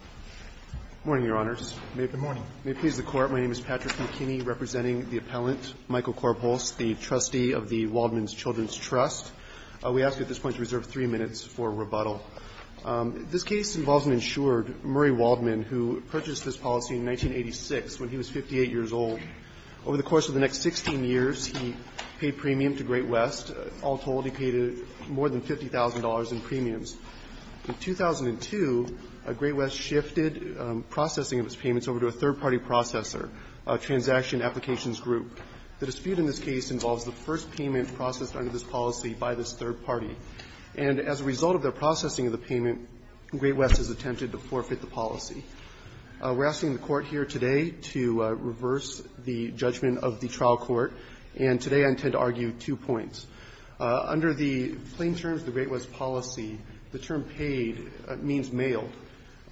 Good morning, Your Honors. May it please the Court, my name is Patrick McKinney, representing the appellant, Michael Korbholz, the trustee of the Waldman Children's Trust. We ask you at this point to reserve three minutes for rebuttal. This case involves an insured, Murray Waldman, who purchased this policy in 1986 when he was 58 years old. Over the course of the next 16 years, he paid premium to Great West. All told, he paid more than $50,000 in premiums. In 2002, Great West shifted processing of his payments over to a third-party processor, Transaction Applications Group. The dispute in this case involves the first payment processed under this policy by this third party. And as a result of their processing of the payment, Great West has attempted to forfeit the policy. We're asking the Court here today to reverse the judgment of the trial court. And today I intend to argue two points. Under the plain terms of the Great West policy, the term paid means mailed.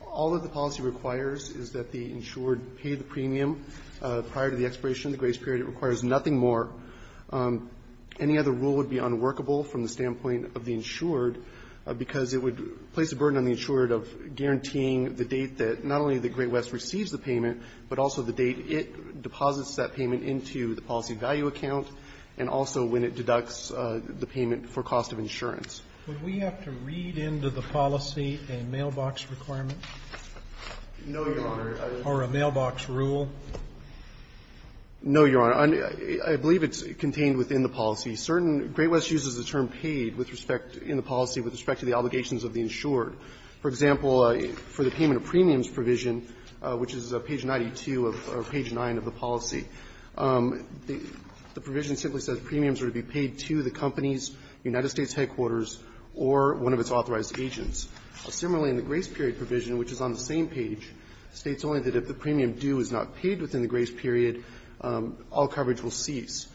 All of the policy requires is that the insured pay the premium prior to the expiration of the grace period. It requires nothing more. Any other rule would be unworkable from the standpoint of the insured, because it would place a burden on the insured of guaranteeing the date that not only the Great West receives the payment, but also the date it deposits that payment into the policy value account, and also when it deducts the payment for cost of insurance. Would we have to read into the policy a mailbox requirement? No, Your Honor. Or a mailbox rule? No, Your Honor. I believe it's contained within the policy. Certain Great West uses the term paid with respect in the policy with respect to the obligations of the insured. For example, for the payment of premiums provision, which is page 92 of page 9 of the policy, the provision simply says premiums are to be paid to the company's United Quarters or one of its authorized agents. Similarly, in the grace period provision, which is on the same page, states only that if the premium due is not paid within the grace period, all coverage will cease.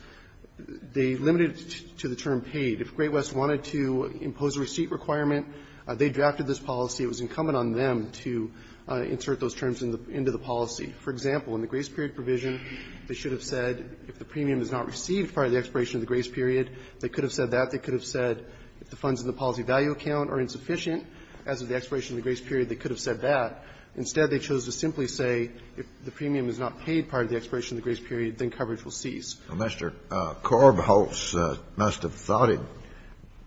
They limited it to the term paid. If Great West wanted to impose a receipt requirement, they drafted this policy. It was incumbent on them to insert those terms into the policy. For example, in the grace period provision, they should have said if the premium is not received prior to the expiration of the grace period, they could have said that. They could have said if the funds in the policy value account are insufficient as of the expiration of the grace period, they could have said that. Instead, they chose to simply say if the premium is not paid prior to the expiration of the grace period, then coverage will cease. Well, Mr. Korbholz must have thought it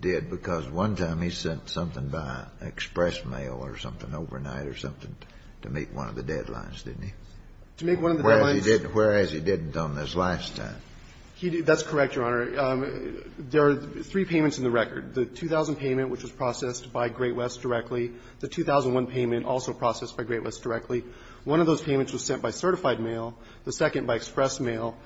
did, because one time he sent something by express mail or something overnight or something to meet one of the deadlines, didn't he? To meet one of the deadlines? Whereas he didn't on this last time. That's correct, Your Honor. There are three payments in the record. The 2000 payment, which was processed by Great West directly. The 2001 payment, also processed by Great West directly. One of those payments was sent by certified mail. The second by express mail.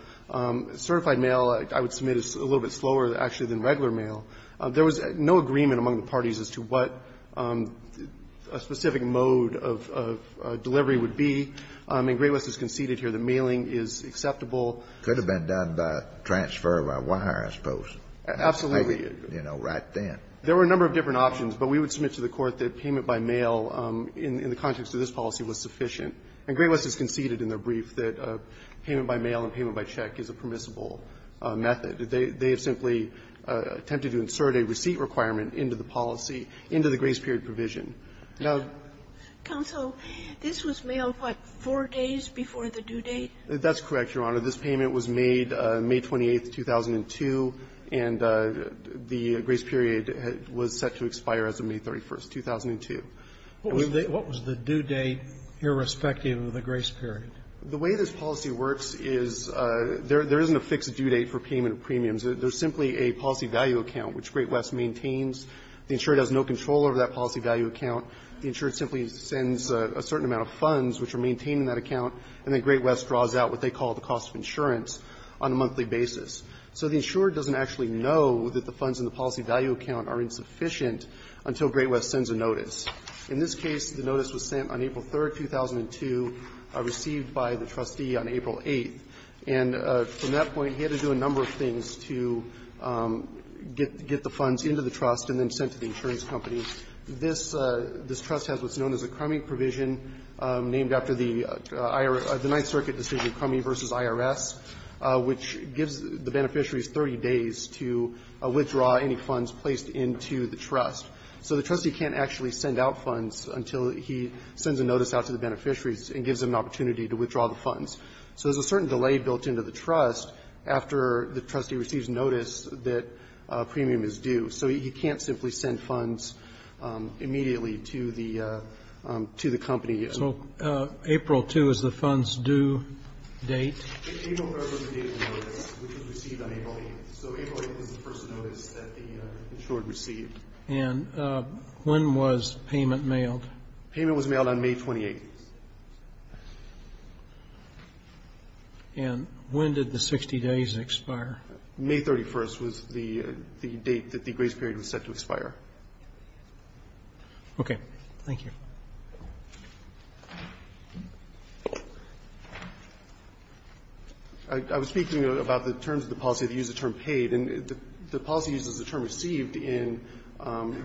Certified mail, I would submit, is a little bit slower, actually, than regular mail. There was no agreement among the parties as to what a specific mode of delivery would be. And Great West has conceded here that mailing is acceptable. It could have been done by transfer of a wire, I suppose. Absolutely. You know, right then. There were a number of different options, but we would submit to the Court that payment by mail in the context of this policy was sufficient. And Great West has conceded in their brief that payment by mail and payment by check is a permissible method. They have simply attempted to insert a receipt requirement into the policy, into the grace period provision. Now the other way around. Counsel, this was mailed, what, four days before the due date? That's correct, Your Honor. This payment was made May 28th, 2002, and the grace period was set to expire as of May 31st, 2002. What was the due date, irrespective of the grace period? The way this policy works is there isn't a fixed due date for payment of premiums. There's simply a policy value account, which Great West maintains. The insured has no control over that policy value account. The insured simply sends a certain amount of funds, which are maintained in that insurance on a monthly basis. So the insured doesn't actually know that the funds in the policy value account are insufficient until Great West sends a notice. In this case, the notice was sent on April 3rd, 2002, received by the trustee on April 8th. And from that point, he had to do a number of things to get the funds into the trust and then sent to the insurance company. This trust has what's known as a crummy provision named after the Ninth Circuit decision, Crummy v. IRS, which gives the beneficiaries 30 days to withdraw any funds placed into the trust. So the trustee can't actually send out funds until he sends a notice out to the beneficiaries and gives them an opportunity to withdraw the funds. So there's a certain delay built into the trust after the trustee receives notice that a premium is due. So he can't simply send funds immediately to the company. So April 2 is the fund's due date? April 3rd was the date of the notice, which was received on April 8th. So April 8th was the first notice that the insured received. And when was payment mailed? Payment was mailed on May 28th. And when did the 60 days expire? May 31st was the date that the grace period was set to expire. OK, thank you. I was speaking about the terms of the policy that use the term paid. And the policy uses the term received in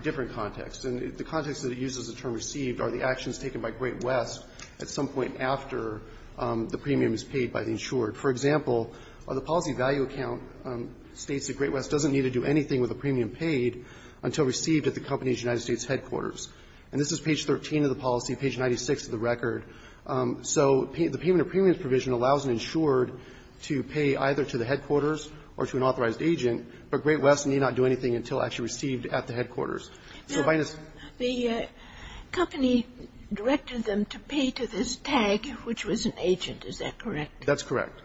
different contexts. And the context that it uses the term received are the actions taken by Great West at some point after the premium is paid by the insured. For example, the policy value account states that Great West doesn't need to do anything with a premium paid until received at the company's United States headquarters. And this is page 13 of the policy, page 96 of the record. So the payment of premiums provision allows an insured to pay either to the headquarters or to an authorized agent, but Great West need not do anything until actually received at the headquarters. So by this the company directed them to pay to this tag, which was an agent. Is that correct? That's correct.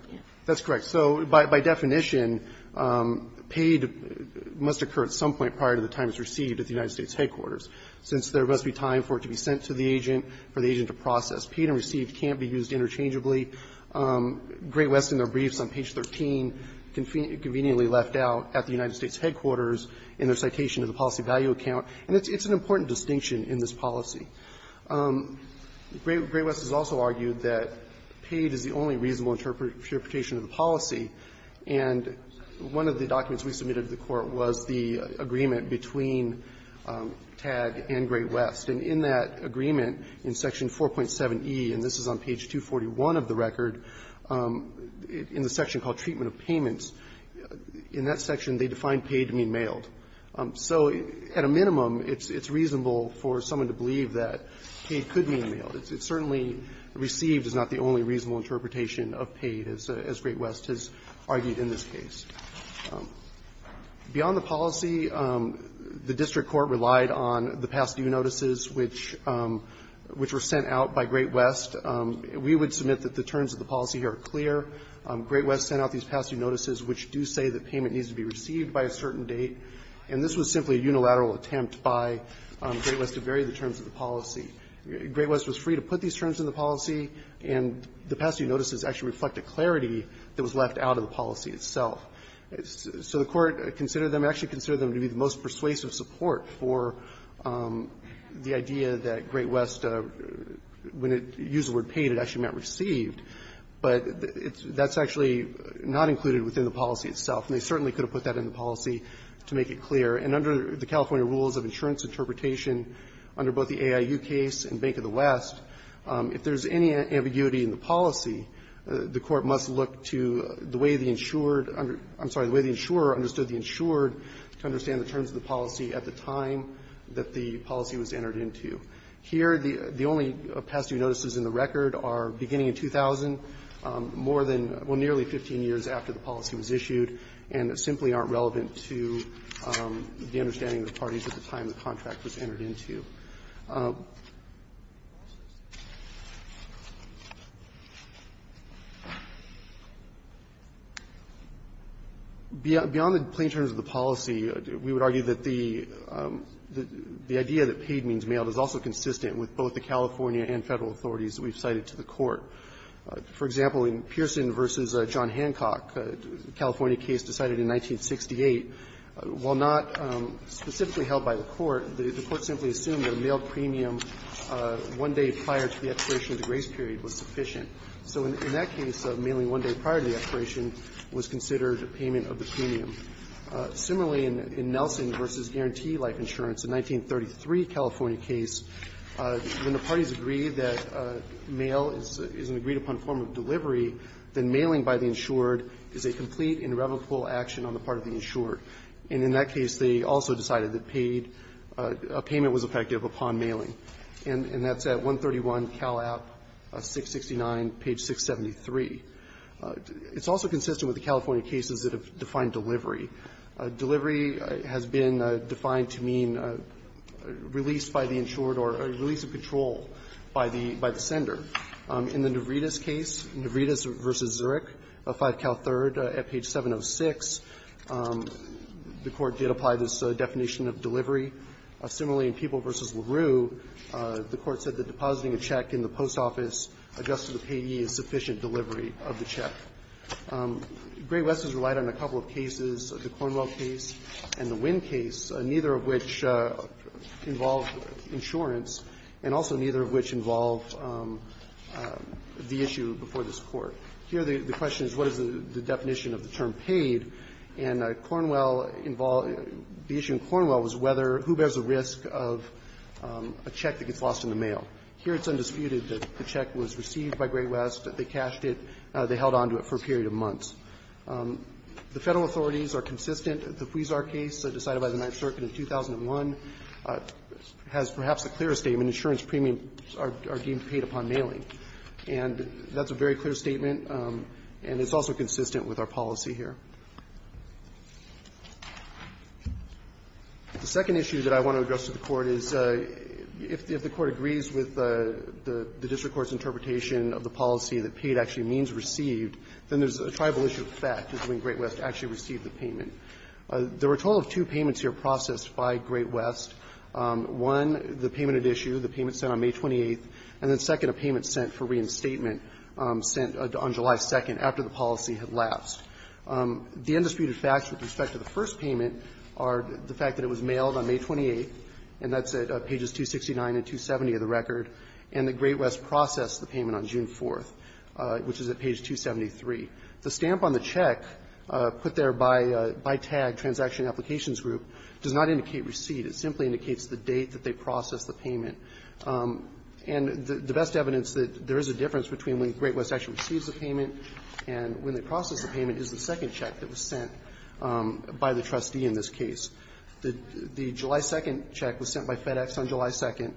That's correct. So by definition, paid must occur at some point prior to the time it's received at the United States headquarters. Since there must be time for it to be sent to the agent, for the agent to process, paid and received can't be used interchangeably. Great West in their briefs on page 13 conveniently left out at the United States headquarters in their citation of the policy value account. And it's an important distinction in this policy. Great West has also argued that paid is the only reasonable interpretation of the policy. And one of the documents we submitted to the Court was the agreement between TAG and Great West. And in that agreement, in section 4.7e, and this is on page 241 of the record, in the section called Treatment of Payments, in that section they define paid to mean mailed. So at a minimum, it's reasonable for someone to believe that paid could mean mailed. It's certainly received is not the only reasonable interpretation of paid, as Great West argued in this case. Beyond the policy, the district court relied on the past due notices, which were sent out by Great West. We would submit that the terms of the policy here are clear. Great West sent out these past due notices, which do say that payment needs to be received by a certain date. And this was simply a unilateral attempt by Great West to vary the terms of the policy. Great West was free to put these terms in the policy, and the past due notices actually reflect a clarity that was left out of the policy itself. So the Court considered them, actually considered them to be the most persuasive support for the idea that Great West, when it used the word paid, it actually meant received. But that's actually not included within the policy itself, and they certainly could have put that in the policy to make it clear. And under the California rules of insurance interpretation, under both the AIU case and Bank of the West, if there's any ambiguity in the policy, the Court must look to the way the insured under the way the insurer understood the insured to understand the terms of the policy at the time that the policy was entered into. Here, the only past due notices in the record are beginning in 2000, more than, well, nearly 15 years after the policy was issued, and simply aren't relevant to the understanding of the parties at the time the contract was entered into. Beyond the plain terms of the policy, we would argue that the idea that paid means mailed is also consistent with both the California and Federal authorities that we've cited to the Court. For example, in Pearson v. John Hancock, a California case decided in 1968, while not specifically held by the Court, the Court simply assumed that the California claim that a mailed premium one day prior to the expiration of the grace period was sufficient. So in that case, mailing one day prior to the expiration was considered a payment of the premium. Similarly, in Nelson v. Guarantee Life Insurance, a 1933 California case, when the parties agreed that mail is an agreed-upon form of delivery, then mailing by the insured is a complete and irrevocable action on the part of the insured. And in that case, they also decided that paid – a payment was effective upon mailing. And that's at 131 Cal App, 669, page 673. It's also consistent with the California cases that have defined delivery. Delivery has been defined to mean release by the insured or release of control by the sender. In the Navritas case, Navritas v. Zurich, 5 Cal 3rd, at page 706, the California court did apply this definition of delivery. Similarly, in People v. LaRue, the court said that depositing a check in the post office, adjusted to payee, is sufficient delivery of the check. Great West has relied on a couple of cases, the Cornwell case and the Winn case, neither of which involved insurance and also neither of which involved the issue before this Court. Here, the question is, what is the definition of the term paid? And Cornwell – the issue in Cornwell was whether – who bears the risk of a check that gets lost in the mail. Here, it's undisputed that the check was received by Great West, they cashed it, they held on to it for a period of months. The Federal authorities are consistent. The Huizar case decided by the Ninth Circuit in 2001 has perhaps the clearest statement, insurance premiums are deemed paid upon mailing. And that's a very clear statement, and it's also consistent with our policy here. The second issue that I want to address to the Court is, if the Court agrees with the district court's interpretation of the policy that paid actually means received, then there's a tribal issue of fact between Great West actually received the payment. There were a total of two payments here processed by Great West. One, the payment at issue, the payment sent on May 28th, and then second, a payment sent for reinstatement sent on July 2nd after the policy had lapsed. The undisputed facts with respect to the first payment are the fact that it was mailed on May 28th, and that's at pages 269 and 270 of the record, and that Great West processed the payment on June 4th, which is at page 273. The stamp on the check put there by tag, Transaction Applications Group, does not indicate receipt. It simply indicates the date that they processed the payment. And the best evidence that there is a difference between when Great West actually receives the payment and when they process the payment is the second check that was sent by the trustee in this case. The July 2nd check was sent by FedEx on July 2nd.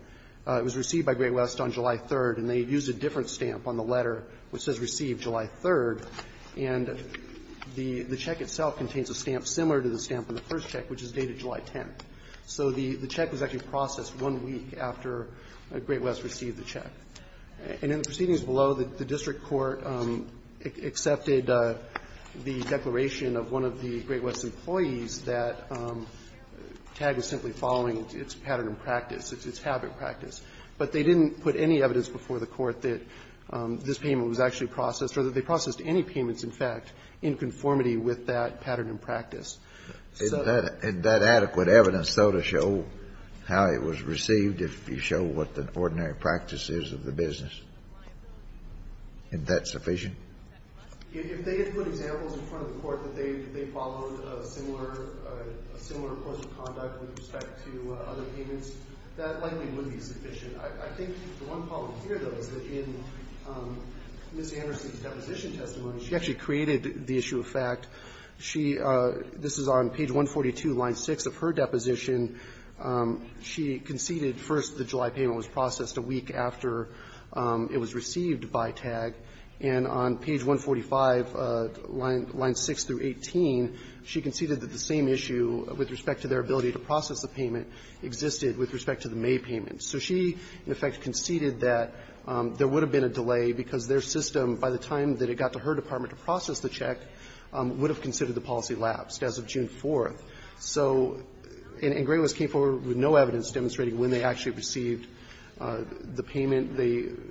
It was received by Great West on July 3rd, and they used a different stamp on the letter which says received July 3rd, and the check itself contains a stamp similar to the stamp on the first check, which is dated July 10th. So the check was actually processed one week after Great West received the check. And in the proceedings below, the district court accepted the declaration of one of the Great West's employees that tag was simply following its pattern of practice, its habit practice. But they didn't put any evidence before the Court that this payment was actually processed or that they processed any payments, in fact, in conformity with that pattern of practice. So that's the difference. Kennedy, in that adequate evidence, though, to show how it was received, if you show what the ordinary practice is of the business, is that sufficient? If they had put examples in front of the Court that they followed a similar course of conduct with respect to other payments, that likely would be sufficient. I think the one problem here, though, is that in Ms. Anderson's deposition testimony, she actually created the issue of fact. She – this is on page 142, line 6 of her deposition. She conceded, first, the July payment was processed a week after it was received by tag. And on page 145, line 6 through 18, she conceded that the same issue with respect to their ability to process the payment existed with respect to the May payment. So she, in effect, conceded that there would have been a delay because their system, by the time that it got to her department to process the check, would have considered the policy lapsed as of June 4th. So – and GreatWest came forward with no evidence demonstrating when they actually received the payment. They –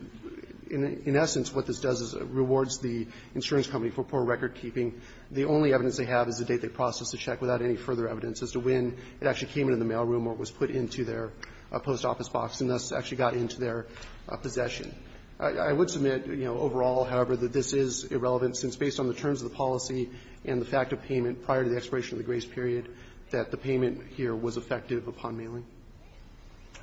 in essence, what this does is it rewards the insurance company for poor record keeping. The only evidence they have is the date they processed the check without any further evidence as to when it actually came into the mailroom or was put into their post office box, and thus actually got into their possession. I would submit, you know, overall, however, that this is irrelevant, since based on the terms of the policy and the fact of payment prior to the expiration of the case period, that the payment here was effective upon mailing.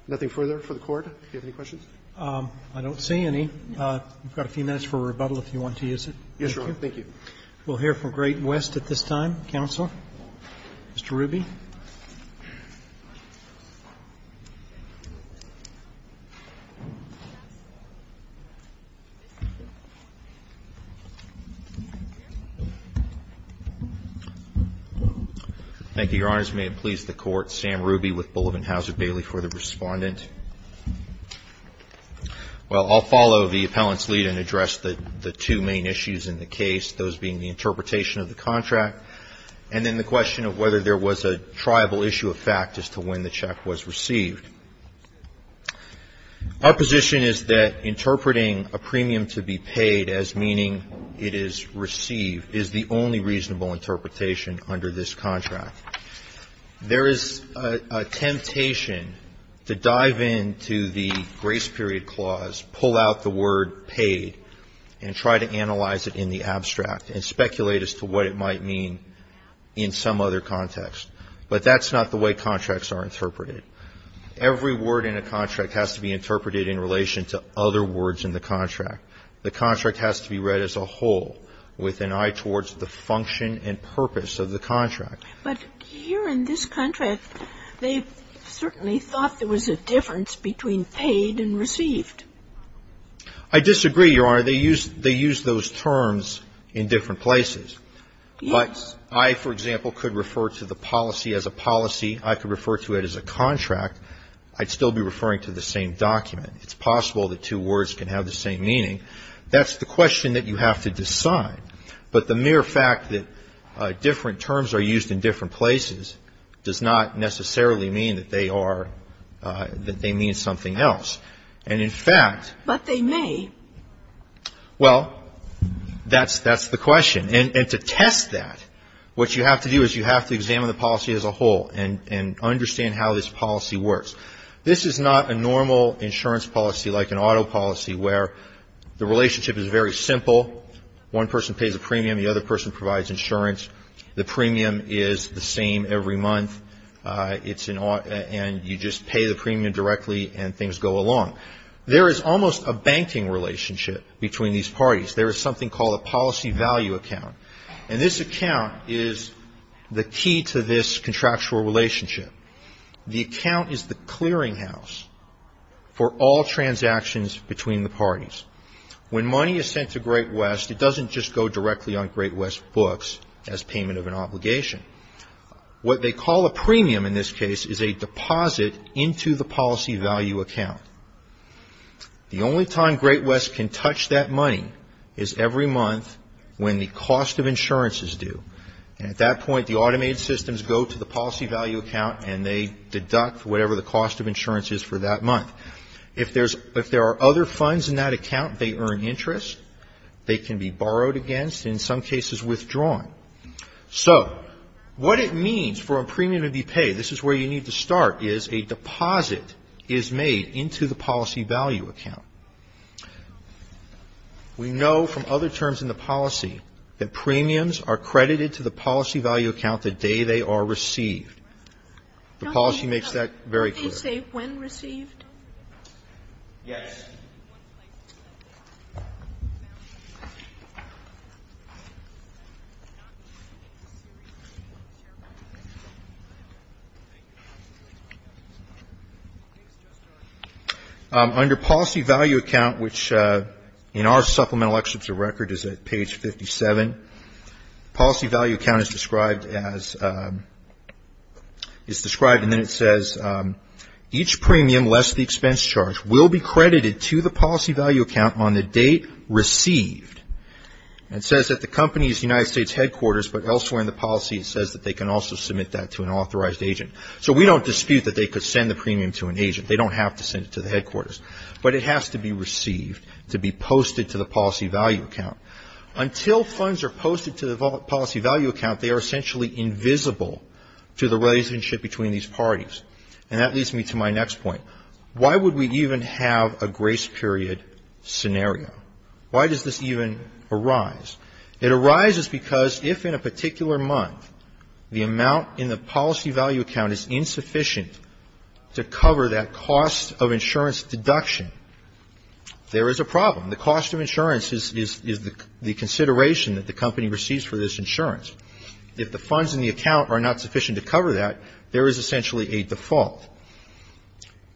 Nothing further for the Court. Do you have any questions? Roberts. I don't see any. We've got a few minutes for rebuttal if you want to use it. Thank you. We'll hear from GreatWest at this time. Counselor? Mr. Ruby? Thank you, Your Honors. May it please the Court, Sam Ruby with Bulletin Hauser-Bailey for the respondent. Well, I'll follow the appellant's lead and address the two main issues in the case, those being the interpretation of the contract and then the question of whether there was a triable issue of fact as to when the check was received. Our position is that interpreting a premium to be paid as meaning it is received is the only reasonable interpretation under this contract. There is a temptation to dive into the grace period clause, pull out the word paid, and try to analyze it in the abstract and speculate as to what it might mean in some other context. But that's not the way contracts are interpreted. Every word in a contract has to be interpreted in relation to other words in the contract. The contract has to be read as a whole with an eye towards the function and purpose of the contract. But here in this contract, they certainly thought there was a difference between paid and received. I disagree, Your Honor. They use those terms in different places. But I, for example, could refer to the policy as a policy. I could refer to it as a contract. I'd still be referring to the same document. It's possible that two words can have the same meaning. That's the question that you have to decide. But the mere fact that different terms are used in different places does not necessarily mean that they are, that they mean something else. And in fact. But they may. Well, that's the question. And to test that, what you have to do is you have to examine the policy as a whole and understand how this policy works. This is not a normal insurance policy like an auto policy where the relationship is very simple. One person pays a premium. The other person provides insurance. The premium is the same every month. It's an auto and you just pay the premium directly and things go along. There is almost a banking relationship between these parties. There is something called a policy value account. And this account is the key to this contractual relationship. The account is the clearinghouse for all transactions between the parties. When money is sent to Great West, it doesn't just go directly on Great West books as payment of an obligation. What they call a premium in this case is a deposit into the policy value account. The only time Great West can touch that money is every month when the cost of insurance is due. And at that point, the automated systems go to the policy value account and they deduct whatever the cost of insurance is for that month. If there are other funds in that account, they earn interest. They can be borrowed against, in some cases, withdrawn. So what it means for a premium to be paid, this is where you need to start, is a deposit is made into the policy value account. We know from other terms in the policy that premiums are credited to the policy value account the day they are received. The policy makes that very clear. Under policy value account, which in our supplemental excerpts of record is at page 57, policy value account is described and then it says each premium, less the expense charge, will be credited to the policy value account on the date received. It says that the company is United States headquarters, but elsewhere in the policy, it says that they can also submit that to an authorized agent. So we don't dispute that they could send the premium to an agent. They don't have to send it to the headquarters. But it has to be received to be posted to the policy value account. Until funds are posted to the policy value account, they are essentially invisible to the relationship between these parties. And that leads me to my next point. Why would we even have a grace period scenario? Why does this even arise? It arises because if in a particular month the amount in the policy value account is insufficient to cover that cost of insurance deduction, there is a problem. The cost of insurance is the consideration that the company receives for this insurance. If the funds in the account are not sufficient to cover that, there is essentially a default.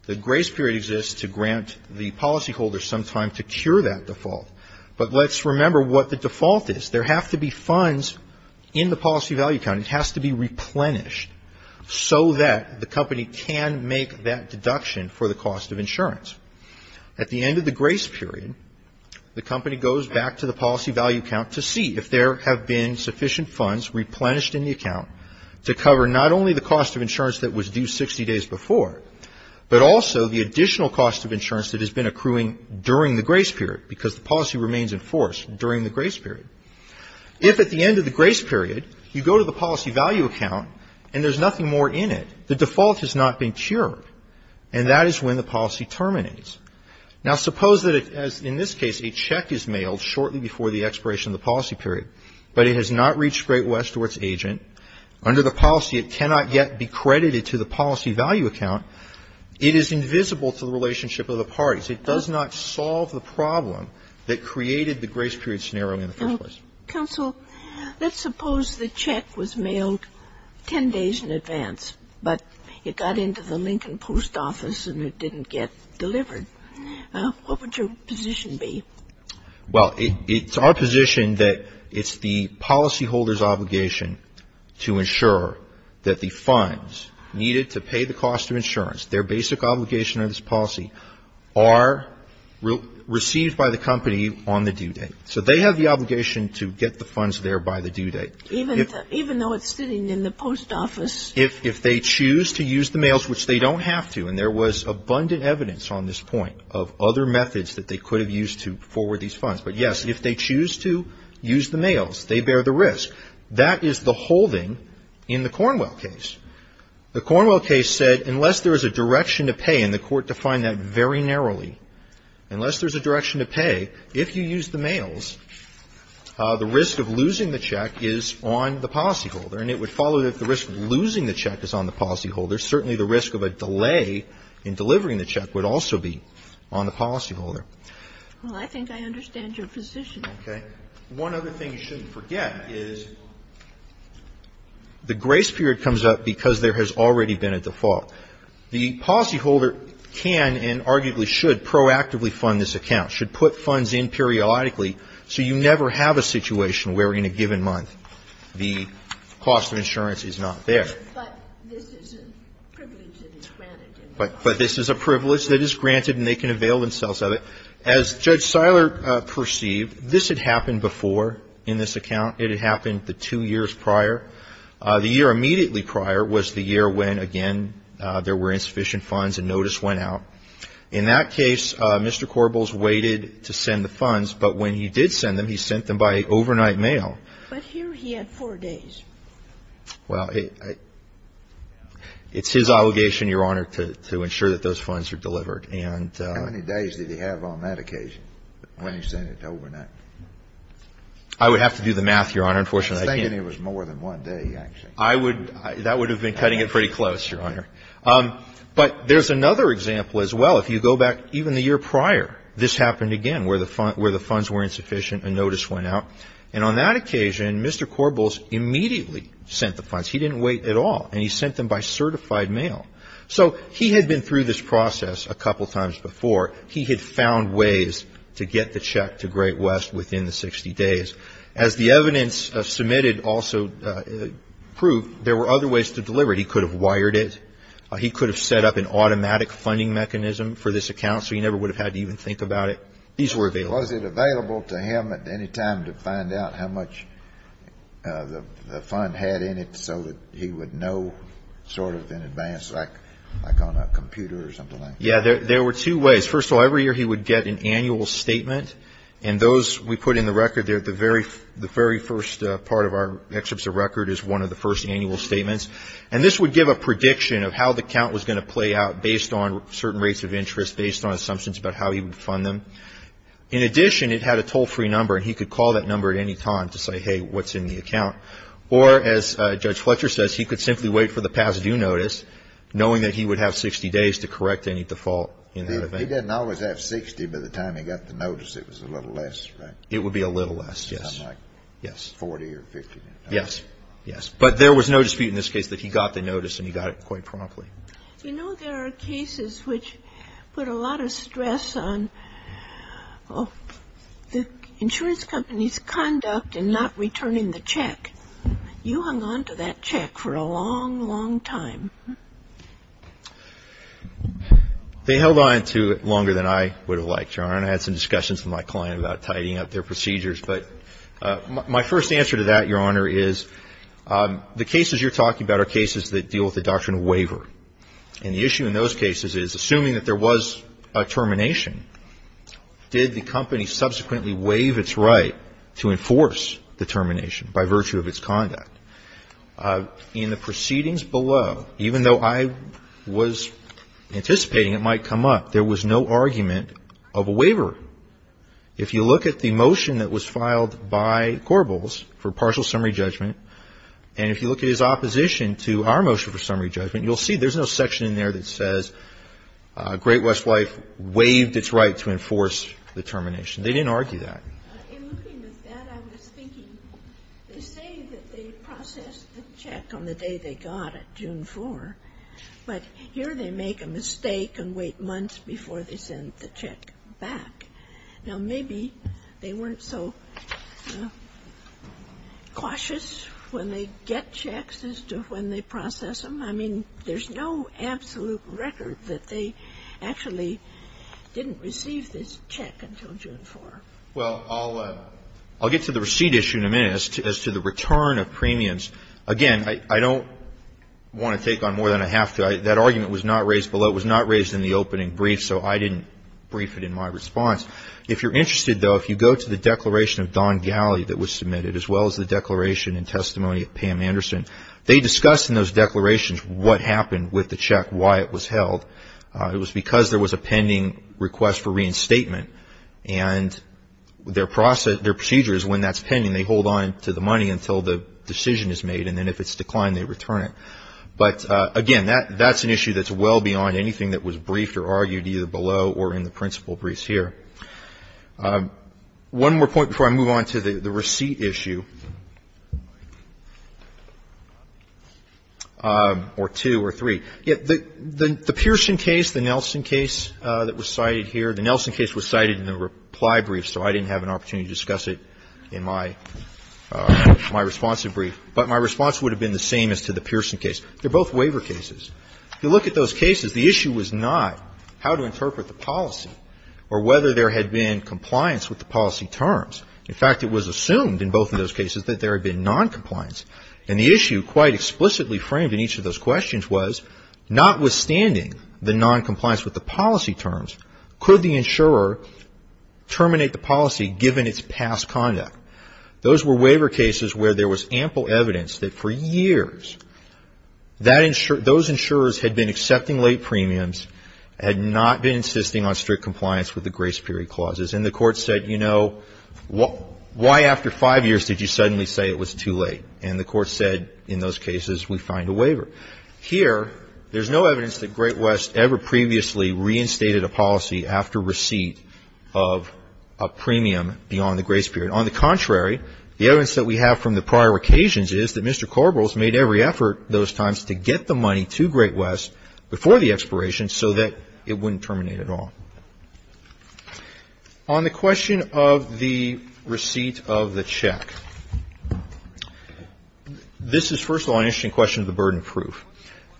The grace period exists to grant the policy holder some time to cure that default. But let's remember what the default is. There have to be funds in the policy value account. It has to be replenished so that the company can make that deduction for the cost of insurance. At the end of the grace period, the company goes back to the policy value account to see if there have been sufficient funds replenished in the account to cover not only the cost of insurance that was due 60 days before, but also the additional cost of insurance that has been accruing during the grace period because the policy remains enforced during the grace period. If at the end of the grace period, you go to the policy value account and there's nothing more in it, the default has not been cured. And that is when the policy terminates. Now, suppose that as in this case, a check is mailed shortly before the expiration of the policy period, but it has not reached Great West or its agent. Under the policy, it cannot yet be credited to the policy value account. It is invisible to the relationship of the parties. It does not solve the problem that created the grace period scenario in the first place. Counsel, let's suppose the check was mailed 10 days in advance, but it got into the Lincoln Post Office and it didn't get delivered. What would your position be? Well, it's our position that it's the policyholder's obligation to ensure that the funds needed to pay the cost of insurance, their basic obligation of this policy are received by the company on the due date. So they have the obligation to get the funds there by the due date. Even though it's sitting in the post office. If they choose to use the mails, which they don't have to, and there was abundant evidence on this point of other methods that they could have used to forward these funds. But yes, if they choose to use the mails, they bear the risk. That is the holding in the Cornwell case. The Cornwell case said, unless there is a direction to pay, and the court defined that very narrowly, unless there's a direction to pay, if you use the mails, the risk of losing the check is on the policyholder. And it would follow that the risk of losing the check is on the policyholder. Certainly the risk of a delay in delivering the check would also be on the policyholder. Well, I think I understand your position. Okay. One other thing you shouldn't forget is the grace period comes up because there has already been a default. The policyholder can and arguably should proactively fund this account, should put funds in periodically, so you never have a situation where in a given month the cost of insurance is not there. But this is a privilege that is granted. But this is a privilege that is granted, and they can avail themselves of it. As Judge Seiler perceived, this had happened before in this account. It had happened the two years prior. The year immediately prior was the year when, again, there were insufficient funds and notice went out. In that case, Mr. Korbels waited to send the funds, but when he did send them, he sent them by overnight mail. But here he had four days. Well, it's his obligation, Your Honor, to ensure that those funds are delivered. How many days did he have on that occasion when he sent it overnight? I would have to do the math, Your Honor. I'm thinking it was more than one day, actually. That would have been cutting it pretty close, Your Honor. But there's another example as well. If you go back even the year prior, this happened again, where the funds were insufficient and notice went out. And on that occasion, Mr. Korbels immediately sent the funds. He didn't wait at all, and he sent them by certified mail. So he had been through this process a couple times before. He had found ways to get the check to Great West within the 60 days. As the evidence submitted also proved, there were other ways to deliver it. He could have wired it. He could have set up an automatic funding mechanism for this account, so he never would have had to even think about it. These were available. Was it available to him at any time to find out how much the fund had in it so that he would know sort of in advance, like on a computer or something like that? Yeah, there were two ways. First of all, every year he would get an annual statement. And those we put in the record there, the very first part of our excerpts of record is one of the first annual statements. And this would give a prediction of how the account was going to play out based on certain rates of interest, based on assumptions about how he would fund them. In addition, it had a toll-free number, and he could call that number at any time to say, hey, what's in the account? Or as Judge Fletcher says, he could simply wait for the past due notice, knowing that he would have 60 days to correct any default in that event. He didn't always have 60, but by the time he got the notice, it was a little less, right? It would be a little less, yes, yes. 40 or 50. Yes, yes. But there was no dispute in this case that he got the notice, and he got it quite promptly. You know, there are cases which put a lot of stress on the insurance company's conduct and not returning the check. You hung on to that check for a long, long time. They held on to it longer than I would have liked, Your Honor, and I had some discussions with my client about tidying up their procedures, but my first answer to that, Your Honor, is the cases you're talking about are cases that deal with the doctrine of waiver. And the issue in those cases is, assuming that there was a termination, did the company subsequently waive its right to enforce the termination by virtue of its conduct? In the proceedings below, even though I was anticipating it might come up, there was no argument of a waiver. If you look at the motion that was filed by Corbels for partial summary judgment, and if you look at his opposition to our motion for summary judgment, you'll see there's no section in there that says Great West Life waived its right to enforce the termination. They didn't argue that. In looking at that, I was thinking, they say that they processed the check on the day they got it, June 4, but here they make a mistake and wait months before they send the check back. Now, maybe they weren't so cautious when they get checks as to when they process them. I mean, there's no absolute record that they actually didn't receive this check until June 4. Well, I'll get to the receipt issue in a minute as to the return of premiums. Again, I don't want to take on more than I have to. That argument was not raised below. It was not raised in the opening brief, so I didn't brief it in my response. If you're interested, though, if you go to the declaration of Don Galley that was submitted, as well as the declaration and testimony of Pam Anderson, they discuss in those declarations what happened with the check, why it was held. It was because there was a pending request for reinstatement, and their procedure is when that's pending, they hold on to the money until the decision is made, and then if it's declined, they return it. But again, that's an issue that's well beyond anything that was briefed or argued either below or in the principal briefs here. One more point before I move on to the receipt issue, or two or three. The Pearson case, the Nelson case that was cited here, the Nelson case was cited in the reply brief, so I didn't have an opportunity to discuss it in my response to the brief, but my response would have been the same as to the Pearson case. They're both waiver cases. If you look at those cases, the issue was not how to interpret the policy or whether there had been compliance with the policy terms. In fact, it was assumed in both of those cases that there had been noncompliance, and the issue quite explicitly framed in each of those questions was notwithstanding the noncompliance with the policy terms, could the insurer terminate the policy given its past conduct? Those were waiver cases where there was ample evidence that for years, those insurers had been accepting late premiums, had not been insisting on strict compliance with the grace period clauses, and the court said, you know, why after five years did you suddenly say it was too late? And the court said, in those cases, we find a waiver. Here, there's no evidence that Great West ever previously reinstated a policy after receipt of a premium beyond the grace period. On the contrary, the evidence that we have from the prior occasions is that Mr. Korbel has made every effort those times to get the money to Great West before the expiration so that it wouldn't terminate at all. On the question of the receipt of the check, this is, first of all, an interesting question of the burden of proof.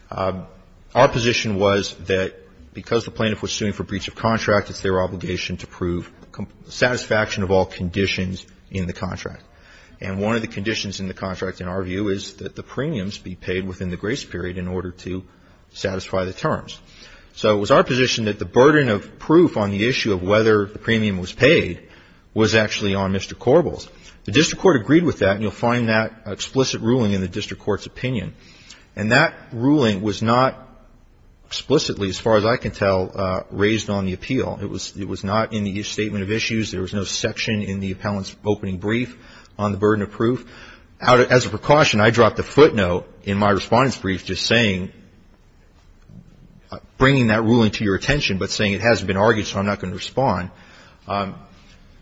Our position was that because the plaintiff was suing for breach of contract, it's their obligation to prove satisfaction of all conditions in the contract. And one of the conditions in the contract, in our view, is that the premiums be paid within the grace period in order to satisfy the terms. So it was our position that the burden of proof on the issue of whether the premium was paid was actually on Mr. Korbel's. The district court agreed with that, and you'll find that explicit ruling in the district court's opinion. And that ruling was not explicitly, as far as I can tell, raised on the appeal. It was not in the statement of issues. There was no section in the appellant's opening brief on the burden of proof. As a precaution, I dropped a footnote in my respondent's brief just saying, bringing that ruling to your attention, but saying it hasn't been argued, so I'm not going to respond.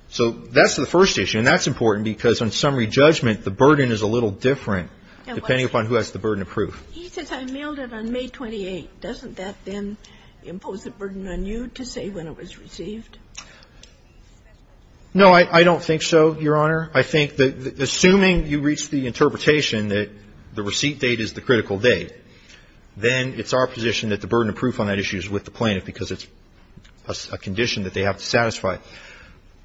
So that's the first issue, and that's important because on summary judgment, the burden is a little different depending upon who has the burden of proof. He says, I mailed it on May 28. Doesn't that then impose a burden on you to say when it was received? No, I don't think so, Your Honor. I think that assuming you reach the interpretation that the receipt date is the critical date, then it's our position that the burden of proof on that issue is with the plaintiff because it's a condition that they have to satisfy.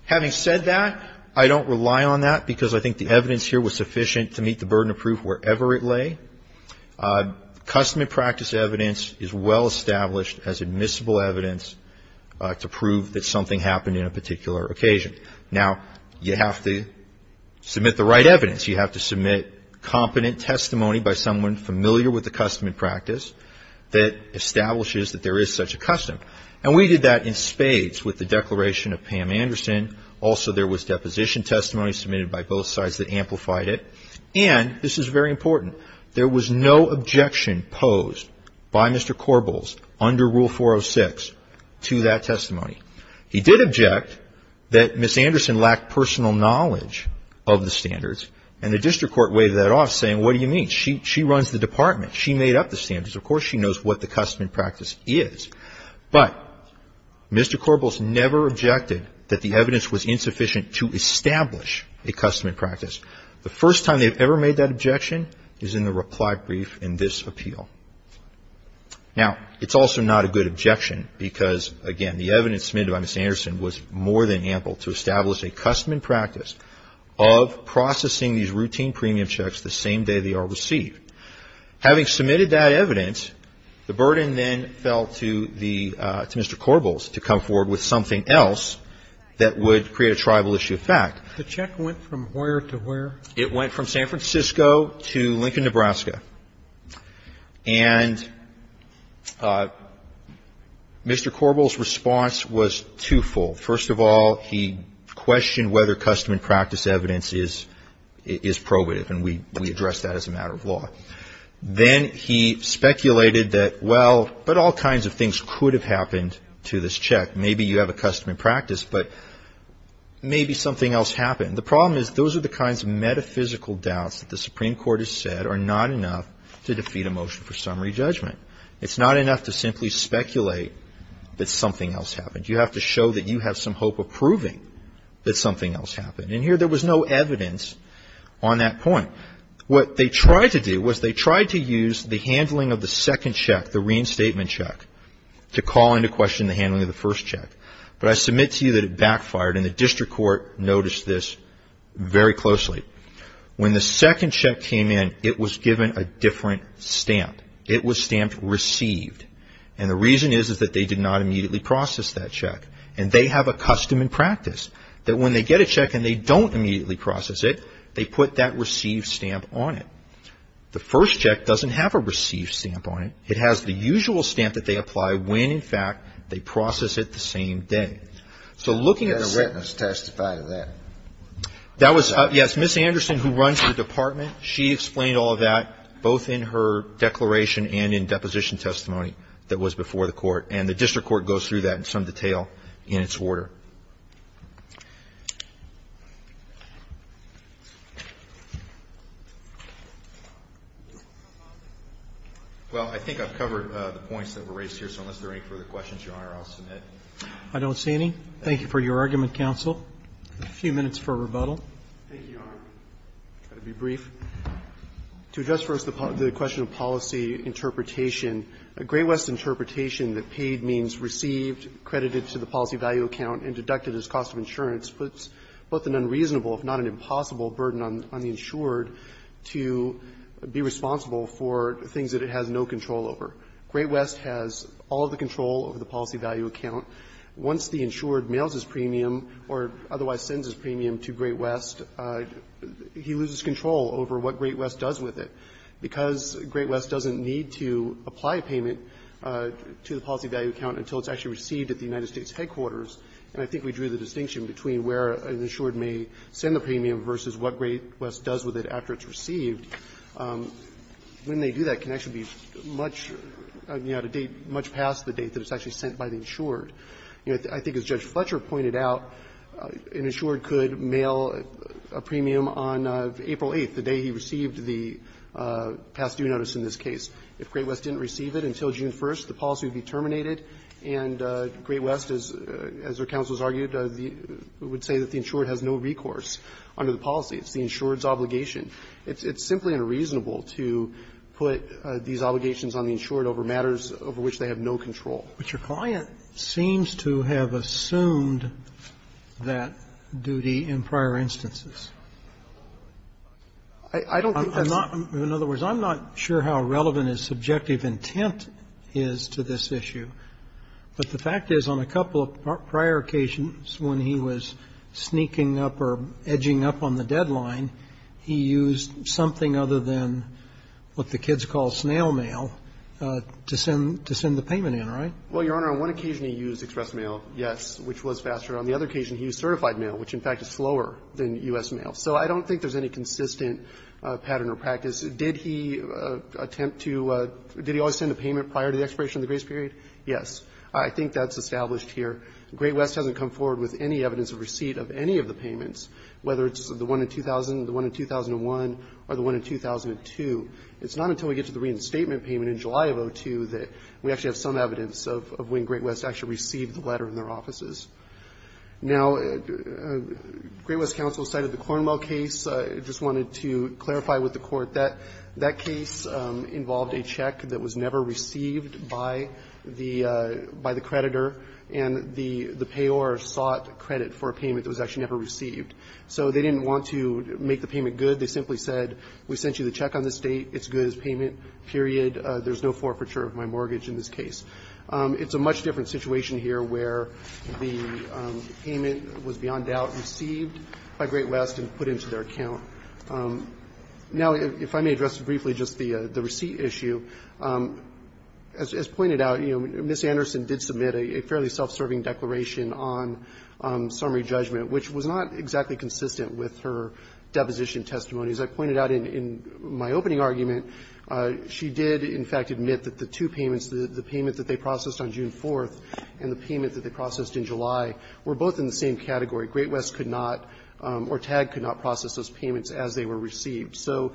Having said that, I don't rely on that because I think the evidence here was sufficient to meet the burden of proof wherever it lay. Custom and practice evidence is well established as admissible evidence to prove that something happened in a particular occasion. Now, you have to submit the right evidence. You have to submit competent testimony by someone familiar with the custom and practice that establishes that there is such a custom. And we did that in spades with the declaration of Pam Anderson. Also, there was deposition testimony submitted by both sides that amplified it. And this is very important. There was no objection posed by Mr. Korbels under Rule 406 to that testimony. He did object that Ms. Anderson lacked personal knowledge of the standards. And the district court weighed that off saying, what do you mean? She runs the department. She made up the standards. Of course, she knows what the custom and practice is. But Mr. Korbels never objected that the evidence was insufficient to establish a custom and practice. The first time they've ever made that objection is in the reply brief in this appeal. Now, it's also not a good objection because, again, the evidence submitted by Ms. Anderson was more than ample to establish a custom and practice of processing these routine premium checks the same day they are received. Having submitted that evidence, the burden then fell to Mr. Korbels to come forward with something else that would create a tribal issue of fact. The check went from where to where? It went from San Francisco to Lincoln, Nebraska. And Mr. Korbels' response was twofold. First of all, he questioned whether custom and practice evidence is probative. And we addressed that as a matter of law. Then he speculated that, well, but all kinds of things could have happened to this check. Maybe you have a custom and practice, but maybe something else happened. It's not enough to defeat a motion for summary judgment. It's not enough to simply speculate that something else happened. You have to show that you have some hope of proving that something else happened. And here there was no evidence on that point. What they tried to do was they tried to use the handling of the second check, the reinstatement check, to call into question the handling of the first check. But I submit to you that it backfired. And the district court noticed this very closely. When the second check came in, it was given a different stamp. It was stamped received. And the reason is that they did not immediately process that check. And they have a custom and practice that when they get a check and they don't immediately process it, they put that receive stamp on it. The first check doesn't have a receive stamp on it. It has the usual stamp that they apply when, in fact, they process it the same day. So looking at the- Did a witness testify to that? That was, yes. Ms. Anderson, who runs the department, she explained all of that, both in her declaration and in deposition testimony that was before the court. And the district court goes through that in some detail in its order. Well, I think I've covered the points that were raised here. So unless there are any further questions, Your Honor, I'll submit. I don't see any. Thank you for your argument, counsel. A few minutes for rebuttal. Thank you, Your Honor. I'll try to be brief. To address first the question of policy interpretation, a Great West interpretation that paid means received, credited to the policy value account, and deducted as cost of insurance puts both an unreasonable, if not an impossible, burden on the insured to be responsible for things that it has no control over. Great West has all of the control over the policy value account. Once the insured mails his premium or otherwise sends his premium to Great West, he loses control over what Great West does with it. Because Great West doesn't need to apply a payment to the policy value account until it's actually received at the United States headquarters, and I think we drew the distinction between where an insured may send the premium versus what Great West does with it after it's received, when they do that, it can actually be much later, much past the date that it's actually sent by the insured. I think, as Judge Fletcher pointed out, an insured could mail a premium on April 8th, the day he received the past due notice in this case. If Great West didn't receive it until June 1st, the policy would be terminated, and Great West, as your counsel has argued, would say that the insured has no recourse under the policy. It's the insured's obligation. It's simply unreasonable to put these obligations on the insured over matters over which they have no control. Robertson, But your client seems to have assumed that duty in prior instances. I don't think that's the case. Robertson, In other words, I'm not sure how relevant his subjective intent is to this issue, but the fact is on a couple of prior occasions when he was sneaking up or edging up on the deadline, he used something other than what the kids call snail mail to send the payment in, right? Well, Your Honor, on one occasion he used express mail, yes, which was faster. On the other occasion he used certified mail, which in fact is slower than U.S. mail. So I don't think there's any consistent pattern or practice. Did he attempt to – did he always send a payment prior to the expiration of the grace period? Yes. I think that's established here. Great West hasn't come forward with any evidence of receipt of any of the payments, whether it's the one in 2000, the one in 2001, or the one in 2002. It's not until we get to the reinstatement payment in July of 2002 that we actually have some evidence of when Great West actually received the letter in their offices. Now, Great West counsel cited the Cornwell case. I just wanted to clarify with the Court that that case involved a check that was never received by the creditor, and the payor sought credit for a payment that was actually never received. So they didn't want to make the payment good. They simply said, we sent you the check on this date, it's good as payment, period. There's no forfeiture of my mortgage in this case. It's a much different situation here where the payment was beyond doubt received by Great West and put into their account. Now, if I may address briefly just the receipt issue, as pointed out, you know, Ms. Anderson did submit a fairly self-serving declaration on summary judgment, which was not exactly consistent with her deposition testimony. As I pointed out in my opening argument, she did, in fact, admit that the two payments, the payment that they processed on June 4th and the payment that they processed in July, were both in the same category. Great West could not or TAG could not process those payments as they were received. So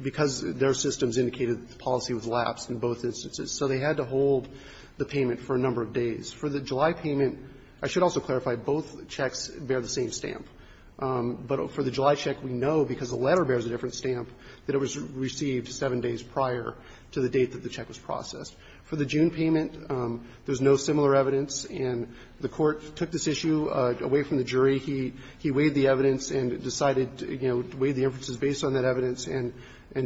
because their systems indicated that the policy was lapsed in both instances, so they had to hold the payment for a number of days. For the July payment, I should also clarify, both checks bear the same stamp. But for the July check, we know because the letter bears a different stamp that it was received seven days prior to the date that the check was processed. For the June payment, there's no similar evidence. And the Court took this issue away from the jury. He weighed the evidence and decided, you know, weighed the inferences based on that evidence and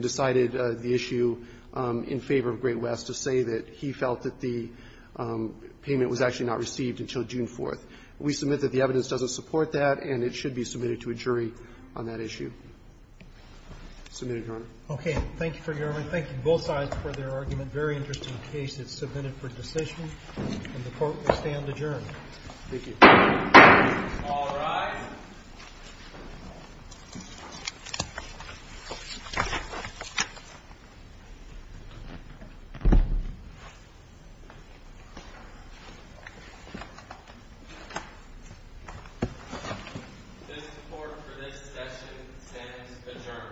decided the issue in favor of Great West to say that he felt that the payment was actually not received until June 4th. We submit that the evidence doesn't support that, and it should be submitted to a jury on that issue. Submitted, Your Honor. Roberts. Thank you for your argument. Thank you, both sides, for their argument. Very interesting case. It's submitted for decision, and the Court will stand adjourned. Thank you. All rise. This Court, for this session, stands adjourned. Thank you.